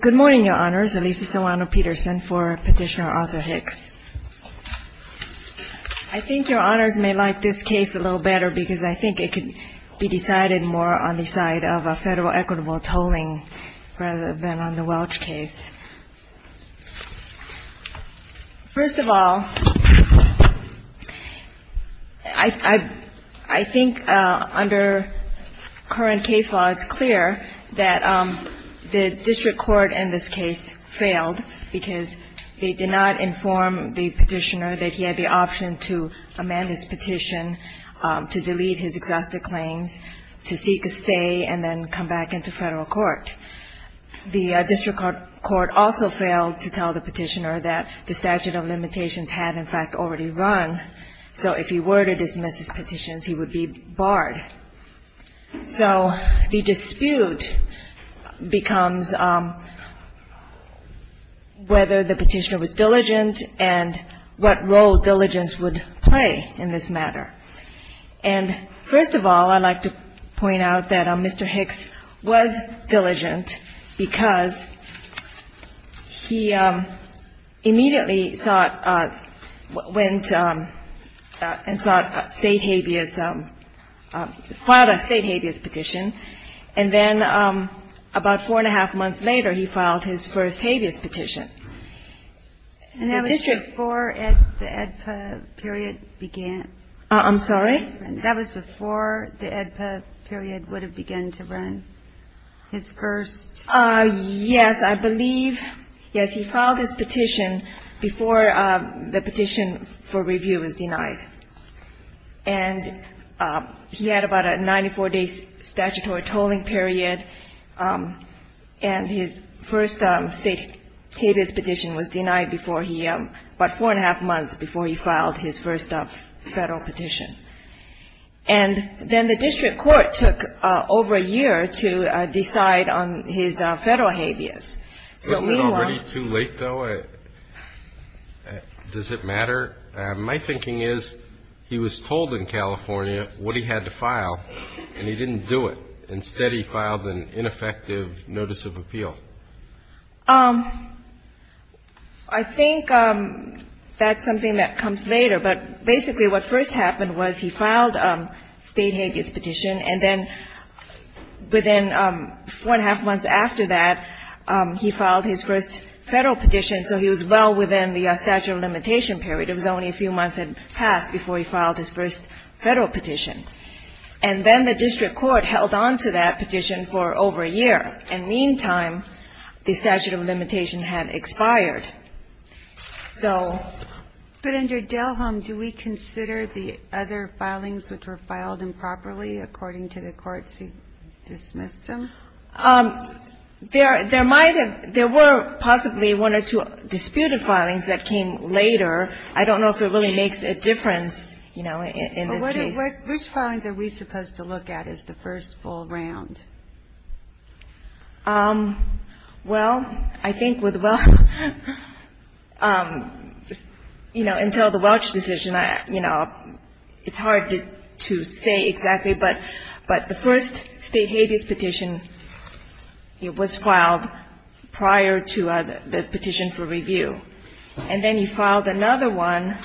Good morning, Your Honors. Alicia Tawano-Peterson for Petitioner Arthur Hicks. I think Your Honors may like this case a little better because I think it could be decided more on the side of federal equitable tolling rather than on the Welch case. First of all, I think under current case law it's clear that the district court in this case failed because they did not inform the petitioner that he had the option to amend his petition to delete his exhaustive claims to seek a stay and then come back into federal court. The district court also failed to tell the petitioner that the statute of limitations had in fact already run. So if he were to dismiss his petitions, he would be barred. So the dispute becomes whether the petitioner was diligent and what role diligence would play in this matter. And first of all, I'd like to point out that Mr. Hicks was diligent because he immediately went and filed a state habeas petition. And then about four and a half months later, he filed his first habeas petition. And that was before the AEDPA period began. I'm sorry? That was before the AEDPA period would have begun to run, his first. Yes, I believe. Yes, he filed his petition before the petition for review was denied. And he had about a 94-day statutory tolling period. And his first state habeas petition was denied before he – about four and a half months before he filed his first federal petition. And then the district court took over a year to decide on his federal habeas. So meanwhile – Isn't it already too late, though? Does it matter? My thinking is he was told in California what he had to file, and he didn't do it. Instead, he filed an ineffective notice of appeal. I think that's something that comes later. But basically what first happened was he filed state habeas petition, and then within four and a half months after that, he filed his first federal petition. So he was well within the statute of limitation period. It was only a few months had passed before he filed his first federal petition. And then the district court held on to that petition for over a year. In the meantime, the statute of limitation had expired. So – But under Delhom, do we consider the other filings which were filed improperly according to the courts who dismissed them? There might have – there were possibly one or two disputed filings that came later. I don't know if it really makes a difference, you know, in this case. Which filings are we supposed to look at as the first full round? Well, I think with the – you know, until the Welch decision, you know, it's hard to say exactly. But the first state habeas petition, it was filed prior to the petition for review. And then he filed another one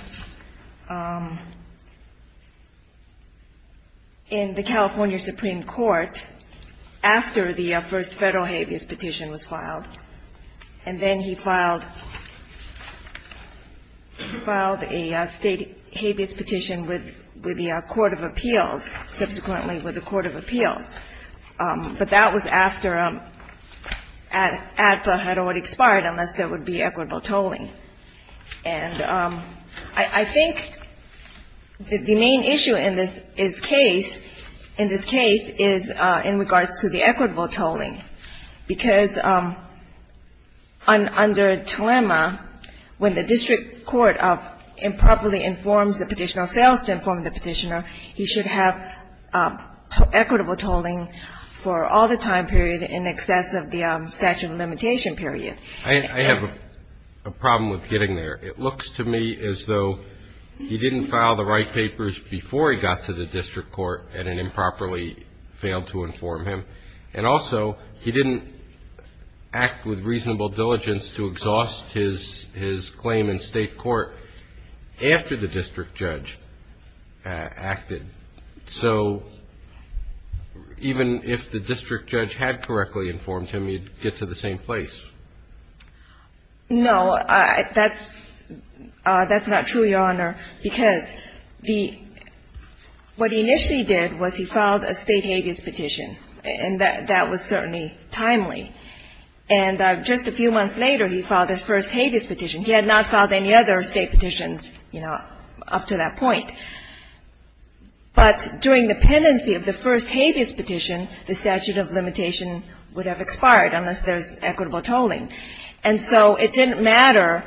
in the California Supreme Court after the first federal habeas petition was filed. And then he filed a state habeas petition with the court of appeals, subsequently with the court of appeals. But that was after ADPA had already expired, unless there would be equitable tolling. And I think the main issue in this case, in this case, is in regards to the equitable tolling, because under dilemma, when the district court improperly informs the petitioner or fails to inform the petitioner, he should have equitable tolling for all the time period in excess of the statute of limitation period. I have a problem with getting there. It looks to me as though he didn't file the right papers before he got to the district court and it improperly failed to inform him. And also, he didn't act with reasonable diligence to exhaust his claim in state court after the district judge acted. So even if the district judge had correctly informed him, you'd get to the same place. No. That's not true, Your Honor, because the – what he initially did was he filed a state And that was certainly timely. And just a few months later, he filed his first habeas petition. He had not filed any other state petitions, you know, up to that point. But during the pendency of the first habeas petition, the statute of limitation would have expired unless there was equitable tolling. And so it didn't matter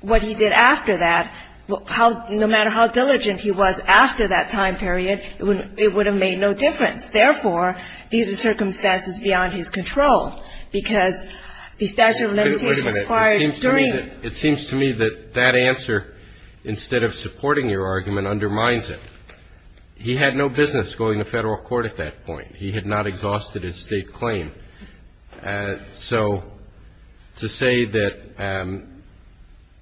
what he did after that. No matter how diligent he was after that time period, it would have made no difference. Therefore, these are circumstances beyond his control, because the statute of limitation expired during – Wait a minute. It seems to me that that answer, instead of supporting your argument, undermines it. He had no business going to Federal court at that point. He had not exhausted his state claim. So to say that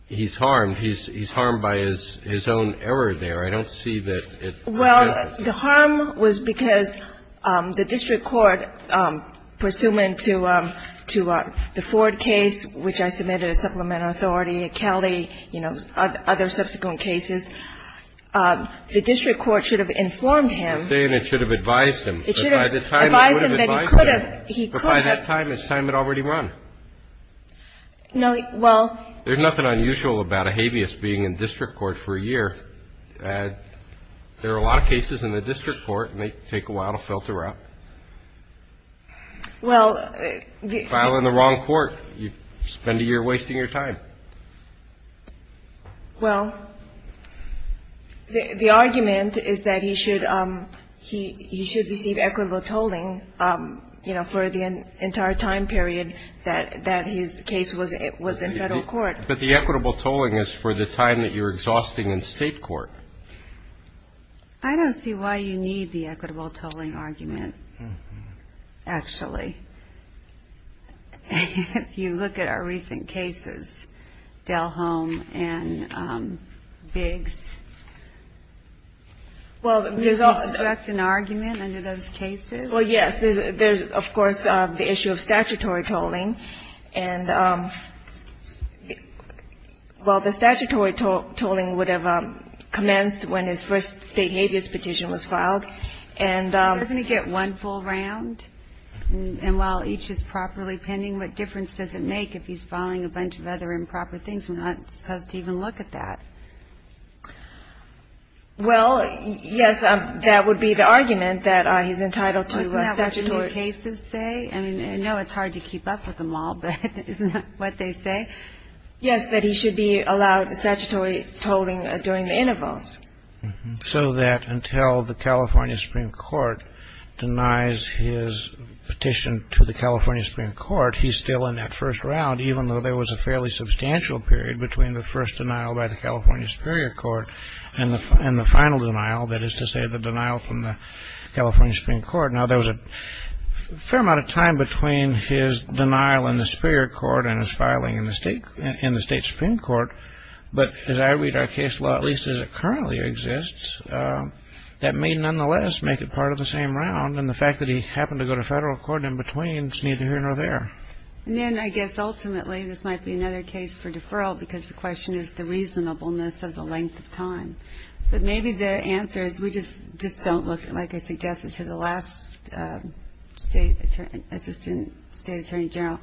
he's harmed, he's harmed by his own error there, I don't see that it – Well, the harm was because the district court, pursuant to the Ford case, which I submitted as supplemental authority, Kelly, you know, other subsequent cases, the district court should have informed him. You're saying it should have advised him. It should have advised him that he could have. He could have. But by that time, it's time had already run. No, well – There's nothing unusual about a habeas being in district court for a year. There are a lot of cases in the district court, and they take a while to filter out. Well, the – File in the wrong court. You spend a year wasting your time. Well, the argument is that he should – he should receive equitable tolling, you know, for the entire time period that his case was in Federal court. But the equitable tolling is for the time that you're exhausting in State court. I don't see why you need the equitable tolling argument, actually. If you look at our recent cases, Dell Home and Biggs. Well, there's also – Does this direct an argument under those cases? Well, yes. There's, of course, the issue of statutory tolling. And, well, the statutory tolling would have commenced when his first State habeas petition was filed. And – Doesn't he get one full round? And while each is properly pending, what difference does it make if he's filing a bunch of other improper things? We're not supposed to even look at that. Well, yes, that would be the argument, that he's entitled to statutory – Isn't that what the new cases say? I mean, I know it's hard to keep up with them all, but isn't that what they say? Yes, that he should be allowed statutory tolling during the intervals. So that until the California Supreme Court denies his petition to the California Supreme Court, he's still in that first round, even though there was a fairly substantial period between the first denial by the California Superior Court and the final denial, that is to say, the denial from the California Supreme Court. Now, there was a fair amount of time between his denial in the Superior Court and his filing in the State Supreme Court. But as I read our case law, at least as it currently exists, that may nonetheless make it part of the same round. And the fact that he happened to go to federal court in between is neither here nor there. And then, I guess, ultimately, this might be another case for deferral because the question is the reasonableness of the length of time. But maybe the answer is we just don't look, like I suggested to the last State Assistant State Attorney General,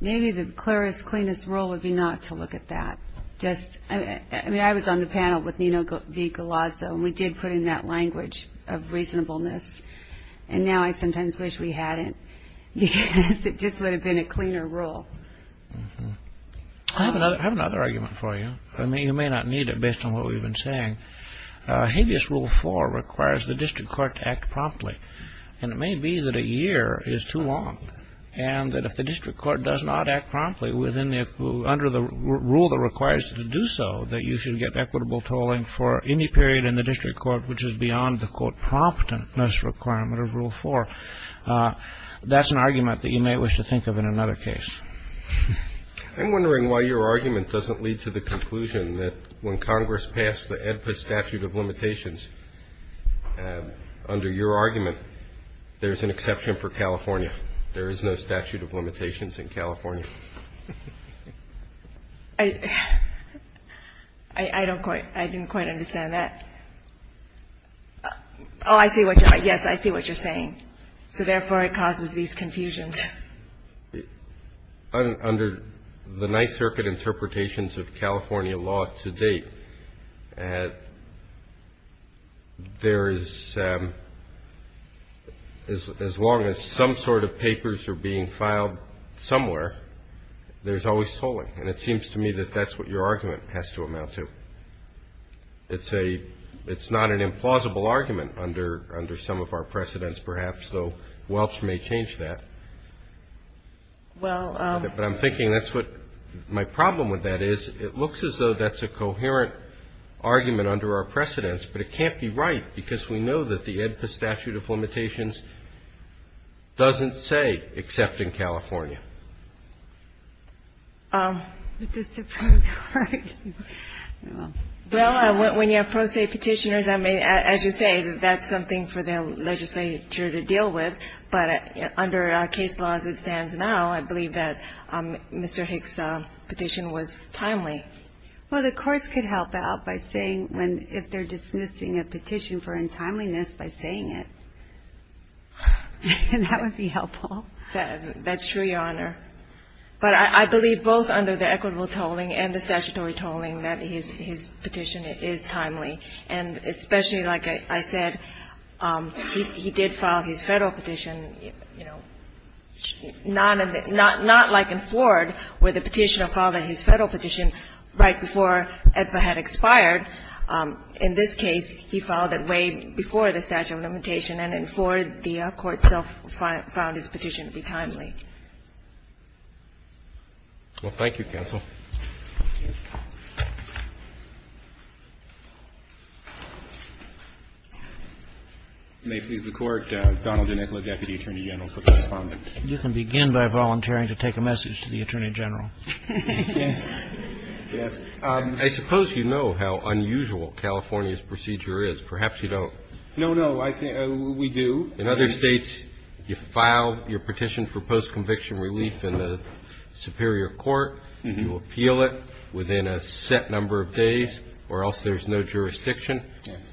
maybe the clearest, cleanest rule would be not to look at that. Just – I mean, I was on the panel with Nino V. Galazzo, and we did put in that language of reasonableness. And now I sometimes wish we hadn't because it just would have been a cleaner rule. I have another argument for you. I mean, you may not need it based on what we've been saying. Habeas Rule 4 requires the district court to act promptly. And it may be that a year is too long and that if the district court does not act promptly under the rule that requires it to do so, that you should get equitable tolling for any period in the district court which is beyond the, quote, promptness requirement of Rule 4. That's an argument that you may wish to think of in another case. I'm wondering why your argument doesn't lead to the conclusion that when Congress passed the AEDPA statute of limitations, under your argument, there's an exception for California. There is no statute of limitations in California. I don't quite, I didn't quite understand that. Oh, I see what you're, yes, I see what you're saying. So therefore, it causes these confusions. Under the Ninth Circuit interpretations of California law to date, there is, as long as some sort of papers are being filed somewhere, there's always tolling, and it seems to me that that's what your argument has to amount to. It's a, it's not an implausible argument under some of our precedents, perhaps, though Welch may change that. Well. But I'm thinking that's what my problem with that is, it looks as though that's a coherent argument under our precedents, but it can't be right because we know that the AEDPA statute of limitations doesn't say except in California. With the Supreme Court. Well, when you have pro se Petitioners, I mean, as you say, that's something for the legislature to deal with, but under case laws as it stands now, I believe that Mr. Hicks' petition was timely. Well, the courts could help out by saying when, if they're dismissing a petition for untimeliness by saying it. That would be helpful. That's true, Your Honor. But I believe both under the equitable tolling and the statutory tolling that his petition is timely. And especially, like I said, he did file his Federal petition, you know, not like in Ford, where the petitioner filed his Federal petition right before AEDPA had expired. In this case, he filed it way before the statute of limitation, and in Ford, the court still found his petition to be timely. Well, thank you, counsel. May it please the Court. Donald DeNicola, Deputy Attorney General, for the respondent. You can begin by volunteering to take a message to the Attorney General. Yes. Yes. I suppose you know how unusual California's procedure is. Perhaps you don't. No, no. We do. In other states, you file your petition for post-conviction relief in the superior court, you appeal it within a set number of days or else there's no jurisdiction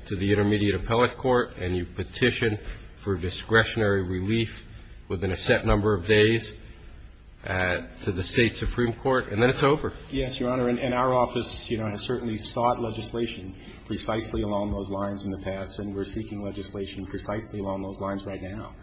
to the intermediate appellate court, and you petition for discretionary relief within a set number of days to the State Supreme Court, and then it's over. Yes, Your Honor. And our office, you know, has certainly sought legislation precisely along those lines in the past, and we're seeking legislation precisely along those lines right now.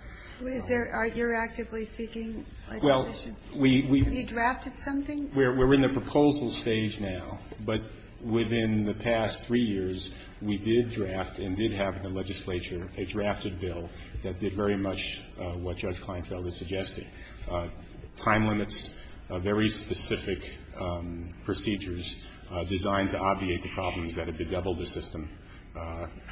Is there or you're actively seeking legislation? Well, we we've Have you drafted something? We're in the proposal stage now, but within the past three years, we did draft and did have in the legislature a drafted bill that did very much what Judge Kleinfeld is suggesting. Time limits, very specific procedures designed to obviate the problems that have bedeviled the system,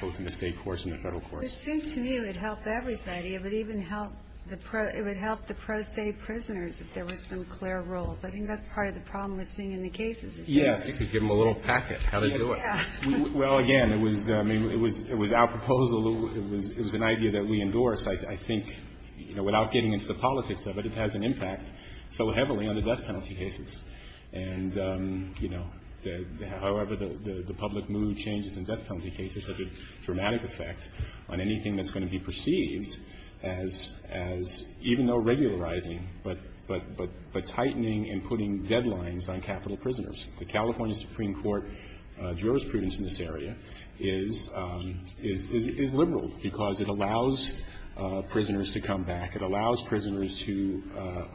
both in the State courts and the Federal courts. It seemed to me it would help everybody. It would even help the pro se prisoners if there were some clear rules. I think that's part of the problem we're seeing in the cases. Yes. You could give them a little packet. How do you do it? Well, again, it was our proposal. It was an idea that we endorsed. I think without getting into the politics of it, it has an impact so heavily on the death penalty cases. And, you know, however, the public mood changes in death penalty cases have a dramatic effect on anything that's going to be perceived as even though regularizing, but tightening and putting deadlines on capital prisoners. The California Supreme Court jurisprudence in this area is liberal because it allows prisoners to come back. It allows prisoners to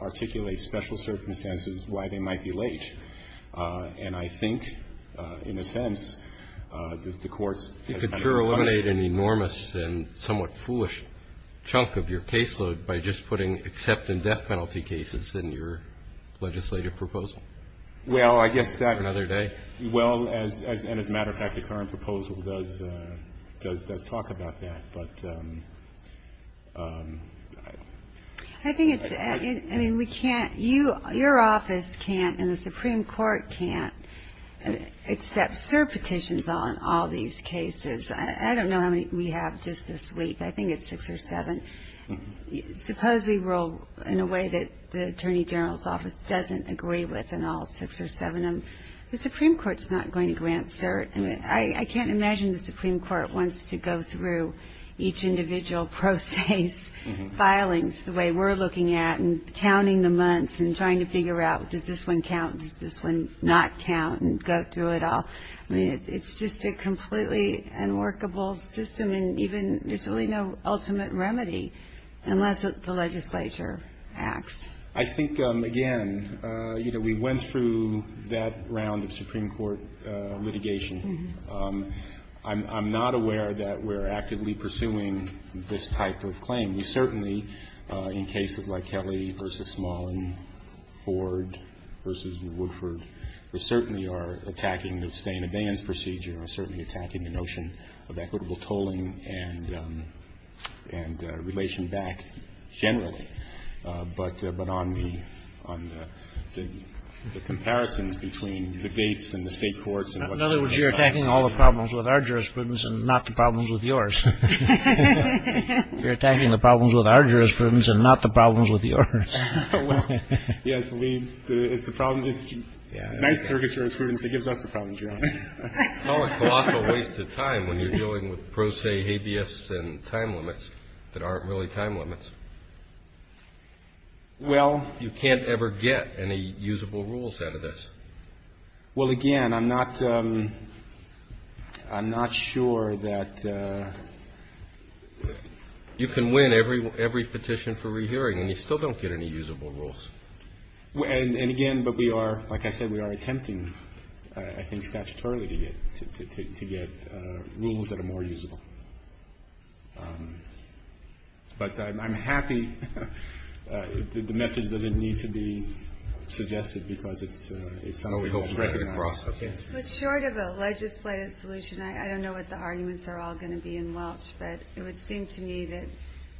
articulate special circumstances why they might be late. And I think, in a sense, the courts has done a good job. You could sure eliminate an enormous and somewhat foolish chunk of your caseload by just putting except in death penalty cases in your legislative proposal. Well, I guess that. Another day. Well, and as a matter of fact, the current proposal does talk about that. But I think it's I mean, we can't you. Your office can't and the Supreme Court can't accept cert petitions on all these cases. I don't know how many we have just this week. I think it's six or seven. Suppose we roll in a way that the attorney general's office doesn't agree with. And all six or seven of the Supreme Court's not going to grant cert. I can't imagine the Supreme Court wants to go through each individual process filings the way we're looking at and counting the months and trying to figure out, does this one count? Does this one not count? And go through it all. I mean, it's just a completely unworkable system. And even there's really no ultimate remedy unless the legislature acts. I think, again, you know, we went through that round of Supreme Court litigation. I'm not aware that we're actively pursuing this type of claim. We certainly, in cases like Kelly v. Smalling, Ford v. Woodford, we certainly are attacking the abstain-advance procedure. We're certainly attacking the notion of equitable tolling and relation back generally. But on the comparisons between the gates and the State courts and what they decide. Kagan. In other words, you're attacking all the problems with our jurisprudence and not the problems with yours. You're attacking the problems with our jurisprudence and not the problems with yours. Well, yes, we do. It's the problem. It's the United States jurisprudence that gives us the problems, Your Honor. Call it colossal waste of time when you're dealing with pro se habeas and time limits that aren't really time limits. Well. You can't ever get any usable rules out of this. Well, again, I'm not sure that you can win every petition for rehearing, and you still don't get any usable rules. And, again, but we are, like I said, we are attempting, I think, statutorily to get rules that are more usable. But I'm happy. The message doesn't need to be suggested because it's not always recognized. But short of a legislative solution, I don't know what the arguments are all going to be in Welch, but it would seem to me that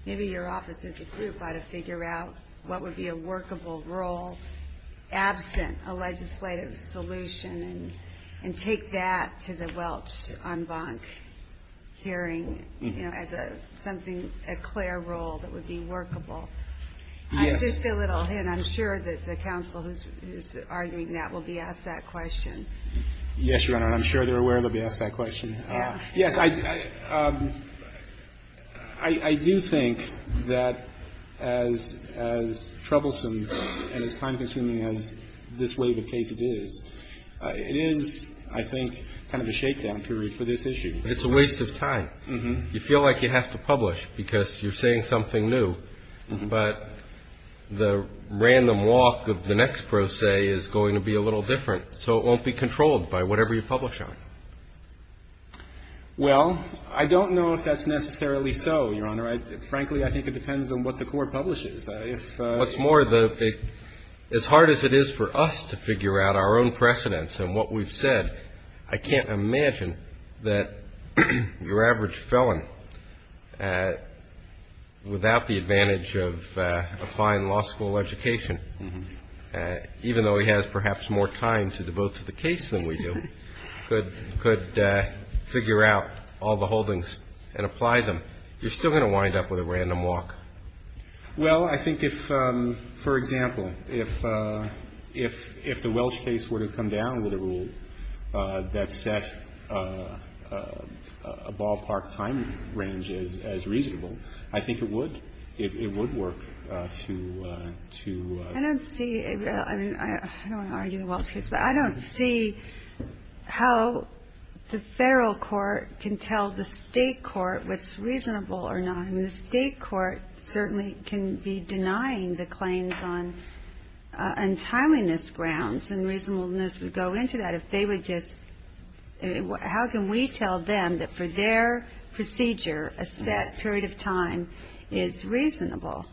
maybe your office as a group ought to figure out what would be a workable rule absent a legislative solution and take that to the Welch en banc hearing, you know, as something, a clear rule that would be workable. Yes. Just a little hint. I'm sure that the counsel who's arguing that will be asked that question. Yes, Your Honor, and I'm sure they're aware they'll be asked that question. Yes. I do think that as troublesome and as time-consuming as this wave of cases is, it is, I think, kind of a shakedown period for this issue. But it's a waste of time. You feel like you have to publish because you're saying something new, but the random walk of the next pro se is going to be a little different, so it won't be controlled by whatever you publish on. Well, I don't know if that's necessarily so, Your Honor. Frankly, I think it depends on what the court publishes. If you want to. What's more, as hard as it is for us to figure out our own precedents and what we've said, I can't imagine that your average felon, without the advantage of a fine law school education, even though he has perhaps more time to devote to the case than we do, could figure out all the holdings and apply them. You're still going to wind up with a random walk. Well, I think if, for example, if the Welsh case were to come down with a rule that set a ballpark time range as reasonable, I think it would. It would work to. I don't see. I mean, I don't want to argue the Welsh case, but I don't see how the federal court can tell the state court what's reasonable or not. I mean, the state court certainly can be denying the claims on untimeliness grounds, and reasonableness would go into that if they would just. How can we tell them that for their procedure, a set period of time is reasonable?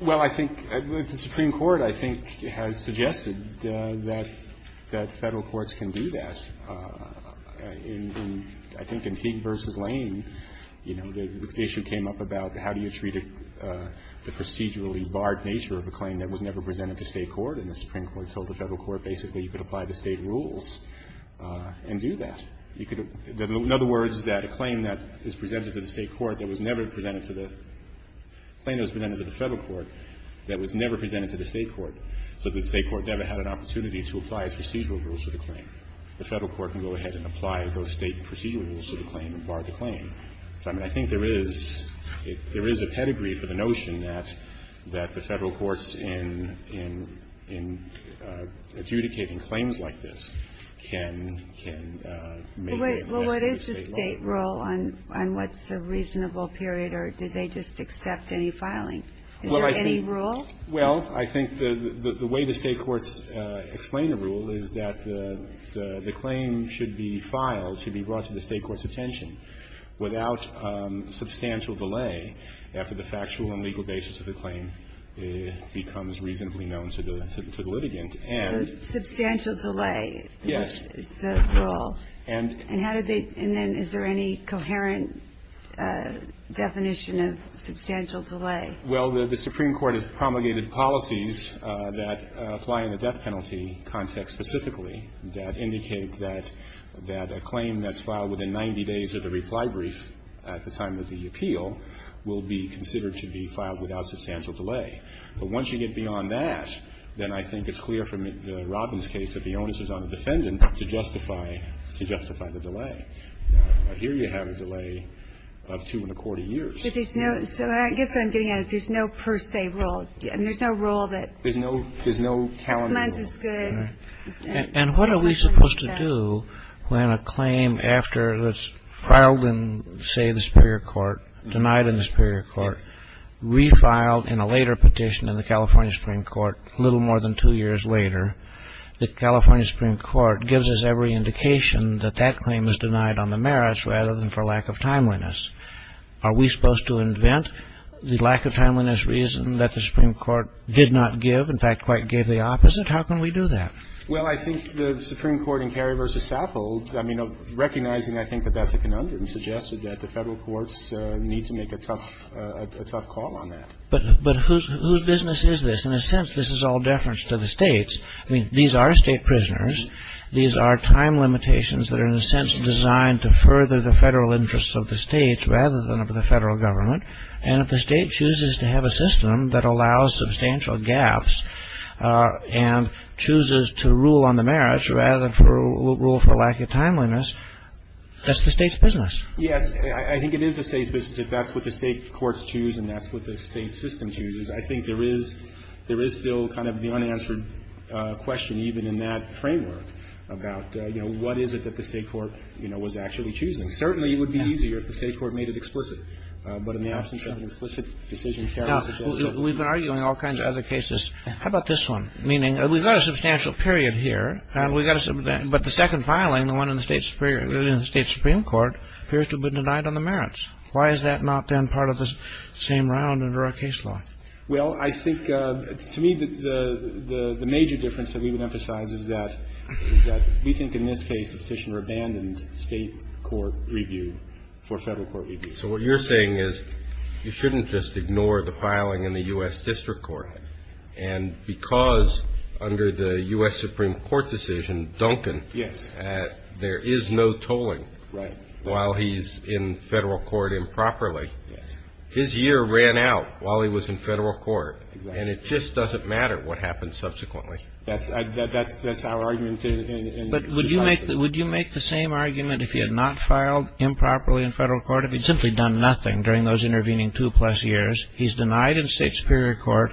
Well, I think the Supreme Court, I think, has suggested that federal courts can do that. I think in Teague v. Lane, you know, the issue came up about how do you treat the procedurally barred nature of a claim that was never presented to state court, and the Supreme Court told the federal court basically you could apply the state rules and do that. You could, in other words, that a claim that is presented to the state court that was never presented to the, a claim that was presented to the federal court that was never presented to the state court, so that the state court never had an opportunity to apply its procedural rules to the claim. The federal court can go ahead and apply those state procedural rules to the claim and bar the claim. So, I mean, I think there is, there is a pedigree for the notion that the federal courts in adjudicating claims like this can make a request to the state law. Well, what is the state rule on what's a reasonable period, or did they just accept any filing? Is there any rule? Well, I think the way the state courts explain the rule is that the claim should be filed, should be brought to the state court's attention. It should be without substantial delay after the factual and legal basis of the claim becomes reasonably known to the litigant. Substantial delay. Yes. Is the rule. And how did they, and then is there any coherent definition of substantial delay? Well, the Supreme Court has promulgated policies that apply in the death penalty context specifically that indicate that a claim that's filed within 90 days of the reply brief at the time of the appeal will be considered to be filed without substantial delay. But once you get beyond that, then I think it's clear from the Robbins case that the onus is on the defendant to justify, to justify the delay. Now, here you have a delay of two and a quarter years. But there's no, so I guess what I'm getting at is there's no per se rule. There's no rule that. There's no calendar rule. Six months is good. And what are we supposed to do when a claim after it's filed in, say, the superior court, denied in the superior court, refiled in a later petition in the California Supreme Court a little more than two years later, the California Supreme Court gives us every indication that that claim is denied on the merits rather than for lack of timeliness. Are we supposed to invent the lack of timeliness reason that the Supreme Court did not give, in fact, quite gave the opposite? How can we do that? Well, I think the Supreme Court in Cary v. Saffold, I mean, recognizing, I think, that that's a conundrum, suggested that the federal courts need to make a tough call on that. But whose business is this? In a sense, this is all deference to the states. I mean, these are state prisoners. These are time limitations that are, in a sense, designed to further the federal interests of the states rather than of the federal government. And if the state chooses to have a system that allows substantial gaps and chooses to rule on the merits rather than rule for lack of timeliness, that's the state's business. Yes. I think it is the state's business if that's what the state courts choose and that's what the state system chooses. I think there is still kind of the unanswered question even in that framework about, you know, what is it that the state court, you know, was actually choosing. Certainly, it would be easier if the state court made it explicit. But in the absence of an explicit decision, Cary's a gentleman. Now, we've been arguing all kinds of other cases. How about this one? Meaning, we've got a substantial period here, and we've got a substantial period. But the second filing, the one in the State Supreme Court, appears to have been denied on the merits. Why is that not then part of the same round under our case law? Well, I think, to me, the major difference that we would emphasize is that we think in this case, the petitioner abandoned state court review for federal court review. So what you're saying is you shouldn't just ignore the filing in the U.S. District Court. And because under the U.S. Supreme Court decision, Duncan. Yes. There is no tolling. Right. While he's in federal court improperly. Yes. His year ran out while he was in federal court. Exactly. And it just doesn't matter what happens subsequently. That's our argument. But would you make the same argument if he had not filed improperly in federal court, if he'd simply done nothing during those intervening two plus years? He's denied in state superior court.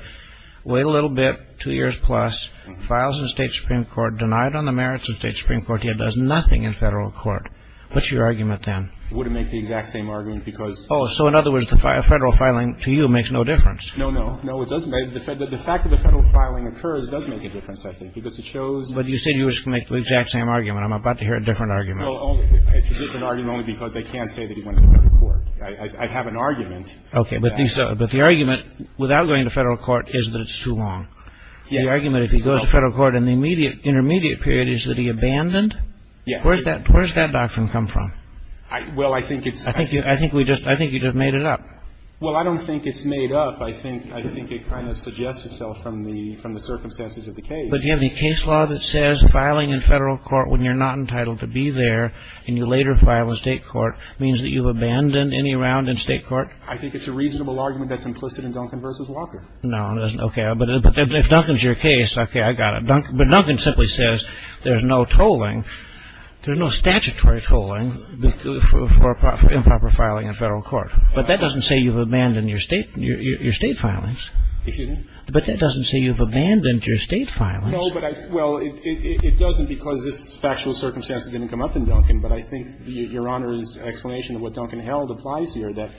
Wait a little bit. Two years plus. Files in state supreme court. Denied on the merits of state supreme court. He does nothing in federal court. What's your argument then? Wouldn't make the exact same argument because. Oh, so in other words, the federal filing to you makes no difference. No, no. No, it doesn't. The fact that the federal filing occurs does make a difference, I think, because it shows. But you said you were going to make the exact same argument. I'm about to hear a different argument. Well, it's a different argument only because I can't say that he went to federal court. I have an argument. Okay. But the argument without going to federal court is that it's too long. The argument if he goes to federal court in the intermediate period is that he abandoned. Yes. Where does that doctrine come from? Well, I think it's. I think you just made it up. Well, I don't think it's made up. I think it kind of suggests itself from the circumstances of the case. But do you have any case law that says filing in federal court when you're not entitled to be there and you later file in state court means that you've abandoned any round in state court? I think it's a reasonable argument that's implicit in Duncan v. Walker. No, it isn't. Okay. But if Duncan's your case, okay, I got it. But Duncan simply says there's no tolling, there's no statutory tolling for improper filing in federal court. But that doesn't say you've abandoned your state filings. Excuse me? But that doesn't say you've abandoned your state filings. No, but I. Well, it doesn't because this factual circumstance didn't come up in Duncan. But I think Your Honor's explanation of what Duncan held applies here, that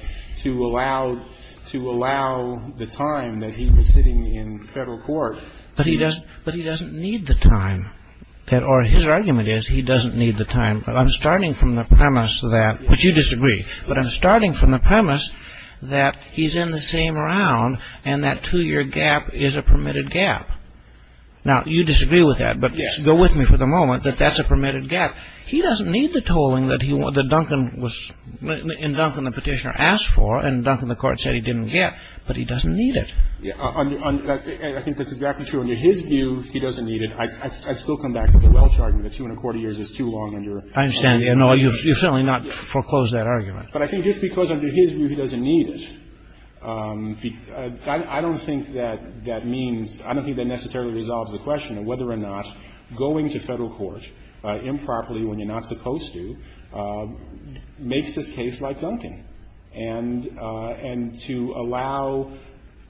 to allow the time that he was sitting in federal court. But he doesn't need the time. Or his argument is he doesn't need the time. But I'm starting from the premise that. Which you disagree. But I'm starting from the premise that he's in the same round and that two-year gap is a permitted gap. Now, you disagree with that. But go with me for the moment that that's a permitted gap. He doesn't need the tolling that Duncan was, in Duncan, the petitioner asked for. And Duncan, the court said he didn't get. But he doesn't need it. I think that's exactly true. Under his view, he doesn't need it. I still come back to the Welch argument that two and a quarter years is too long under. I understand. And you certainly not foreclose that argument. But I think just because under his view he doesn't need it, I don't think that that means, I don't think that necessarily resolves the question of whether or not going to federal court improperly when you're not supposed to makes this case like Duncan. And to allow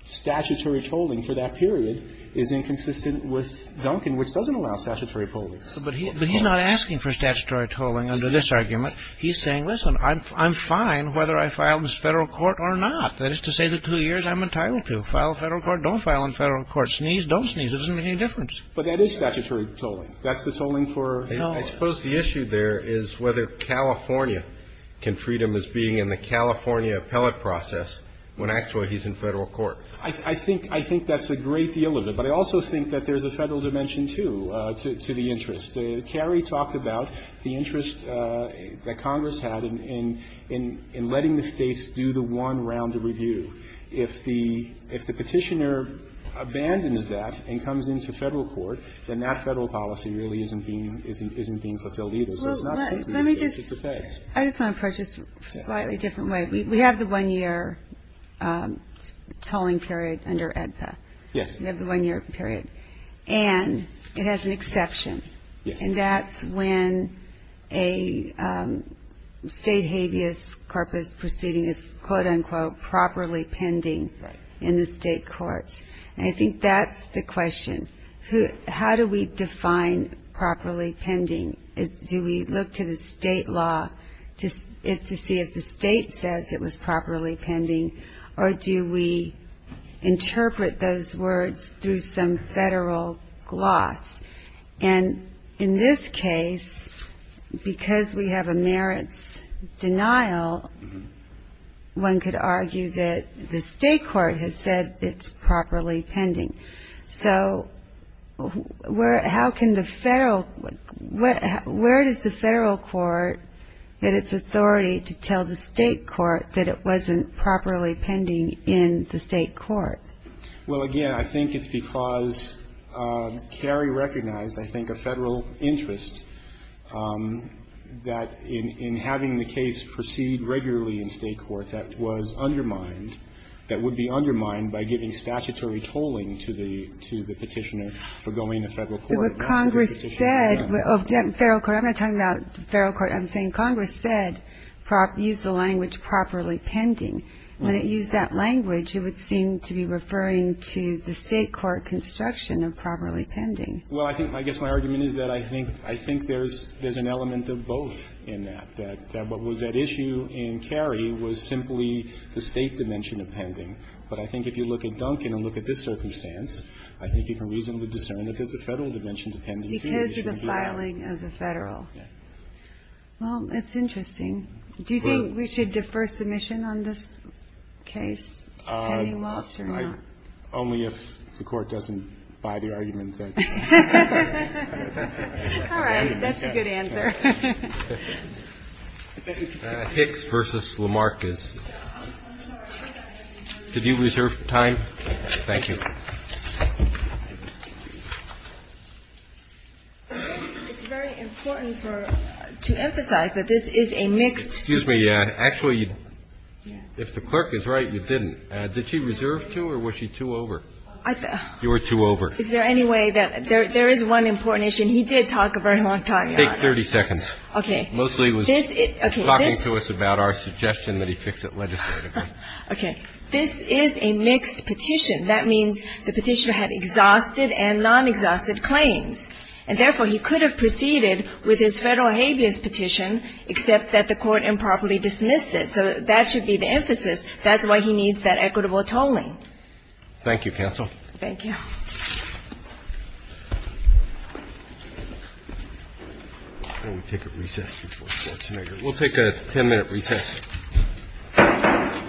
statutory tolling for that period is inconsistent with Duncan, which doesn't allow statutory tolling. But he's not asking for statutory tolling under this argument. He's saying, listen, I'm fine whether I file this federal court or not. That is to say the two years I'm entitled to. File federal court, don't file in federal court. Sneeze, don't sneeze. It doesn't make any difference. But that is statutory tolling. That's the tolling for California. I suppose the issue there is whether California can treat him as being in the California appellate process when actually he's in federal court. I think that's a great deal of it. But I also think that there's a federal dimension, too, to the interest. Carrie talked about the interest that Congress had in letting the States do the one-rounded review. If the Petitioner abandons that and comes into federal court, then that federal policy really isn't being fulfilled either. So it's not simply a case. It's a case. I just want to approach this a slightly different way. We have the one-year tolling period under AEDPA. Yes. We have the one-year period. And it has an exception. Yes. And that's when a state habeas corpus proceeding is, quote, unquote, properly pending in the state courts. And I think that's the question. How do we define properly pending? Do we look to the state law to see if the state says it was properly pending, or do we interpret those words through some federal gloss? And in this case, because we have a merits denial, one could argue that the state court has said it's properly pending. So where does the federal court get its authority to tell the state court that it wasn't properly pending in the state court? Well, again, I think it's because Cary recognized, I think, a federal interest that in having the case proceed regularly in state court, that was undermined that would be undermined by giving statutory tolling to the petitioner for going to federal court. But what Congress said of the federal court, I'm not talking about the federal court. I'm saying Congress said use the language properly pending. When it used that language, it would seem to be referring to the state court construction of properly pending. Well, I think my argument is that I think there's an element of both in that, that what was at issue in Cary was simply the state dimension of pending. But I think if you look at Duncan and look at this circumstance, I think you can reasonably discern that there's a federal dimension to pending. Because of the filing of the federal. Well, it's interesting. Do you think we should defer submission on this case, Penny Walsh, or not? Only if the Court doesn't buy the argument. All right. That's a good answer. Hicks v. Lamarcus. Did you reserve time? Thank you. It's very important for to emphasize that this is a mixed. Excuse me. Actually, if the clerk is right, you didn't. Did she reserve two or was she two over? You were two over. Is there any way that there is one important issue? And he did talk a very long time. Take 30 seconds. Okay. Mostly he was talking to us about our suggestion that he fix it legislatively. Okay. This is a mixed petition. That means the petitioner had exhausted and non-exhausted claims. And, therefore, he could have proceeded with his federal habeas petition, except that the Court improperly dismissed it. So that should be the emphasis. That's why he needs that equitable tolling. Thank you, counsel. Thank you. We'll take a ten-minute recess. Thank you.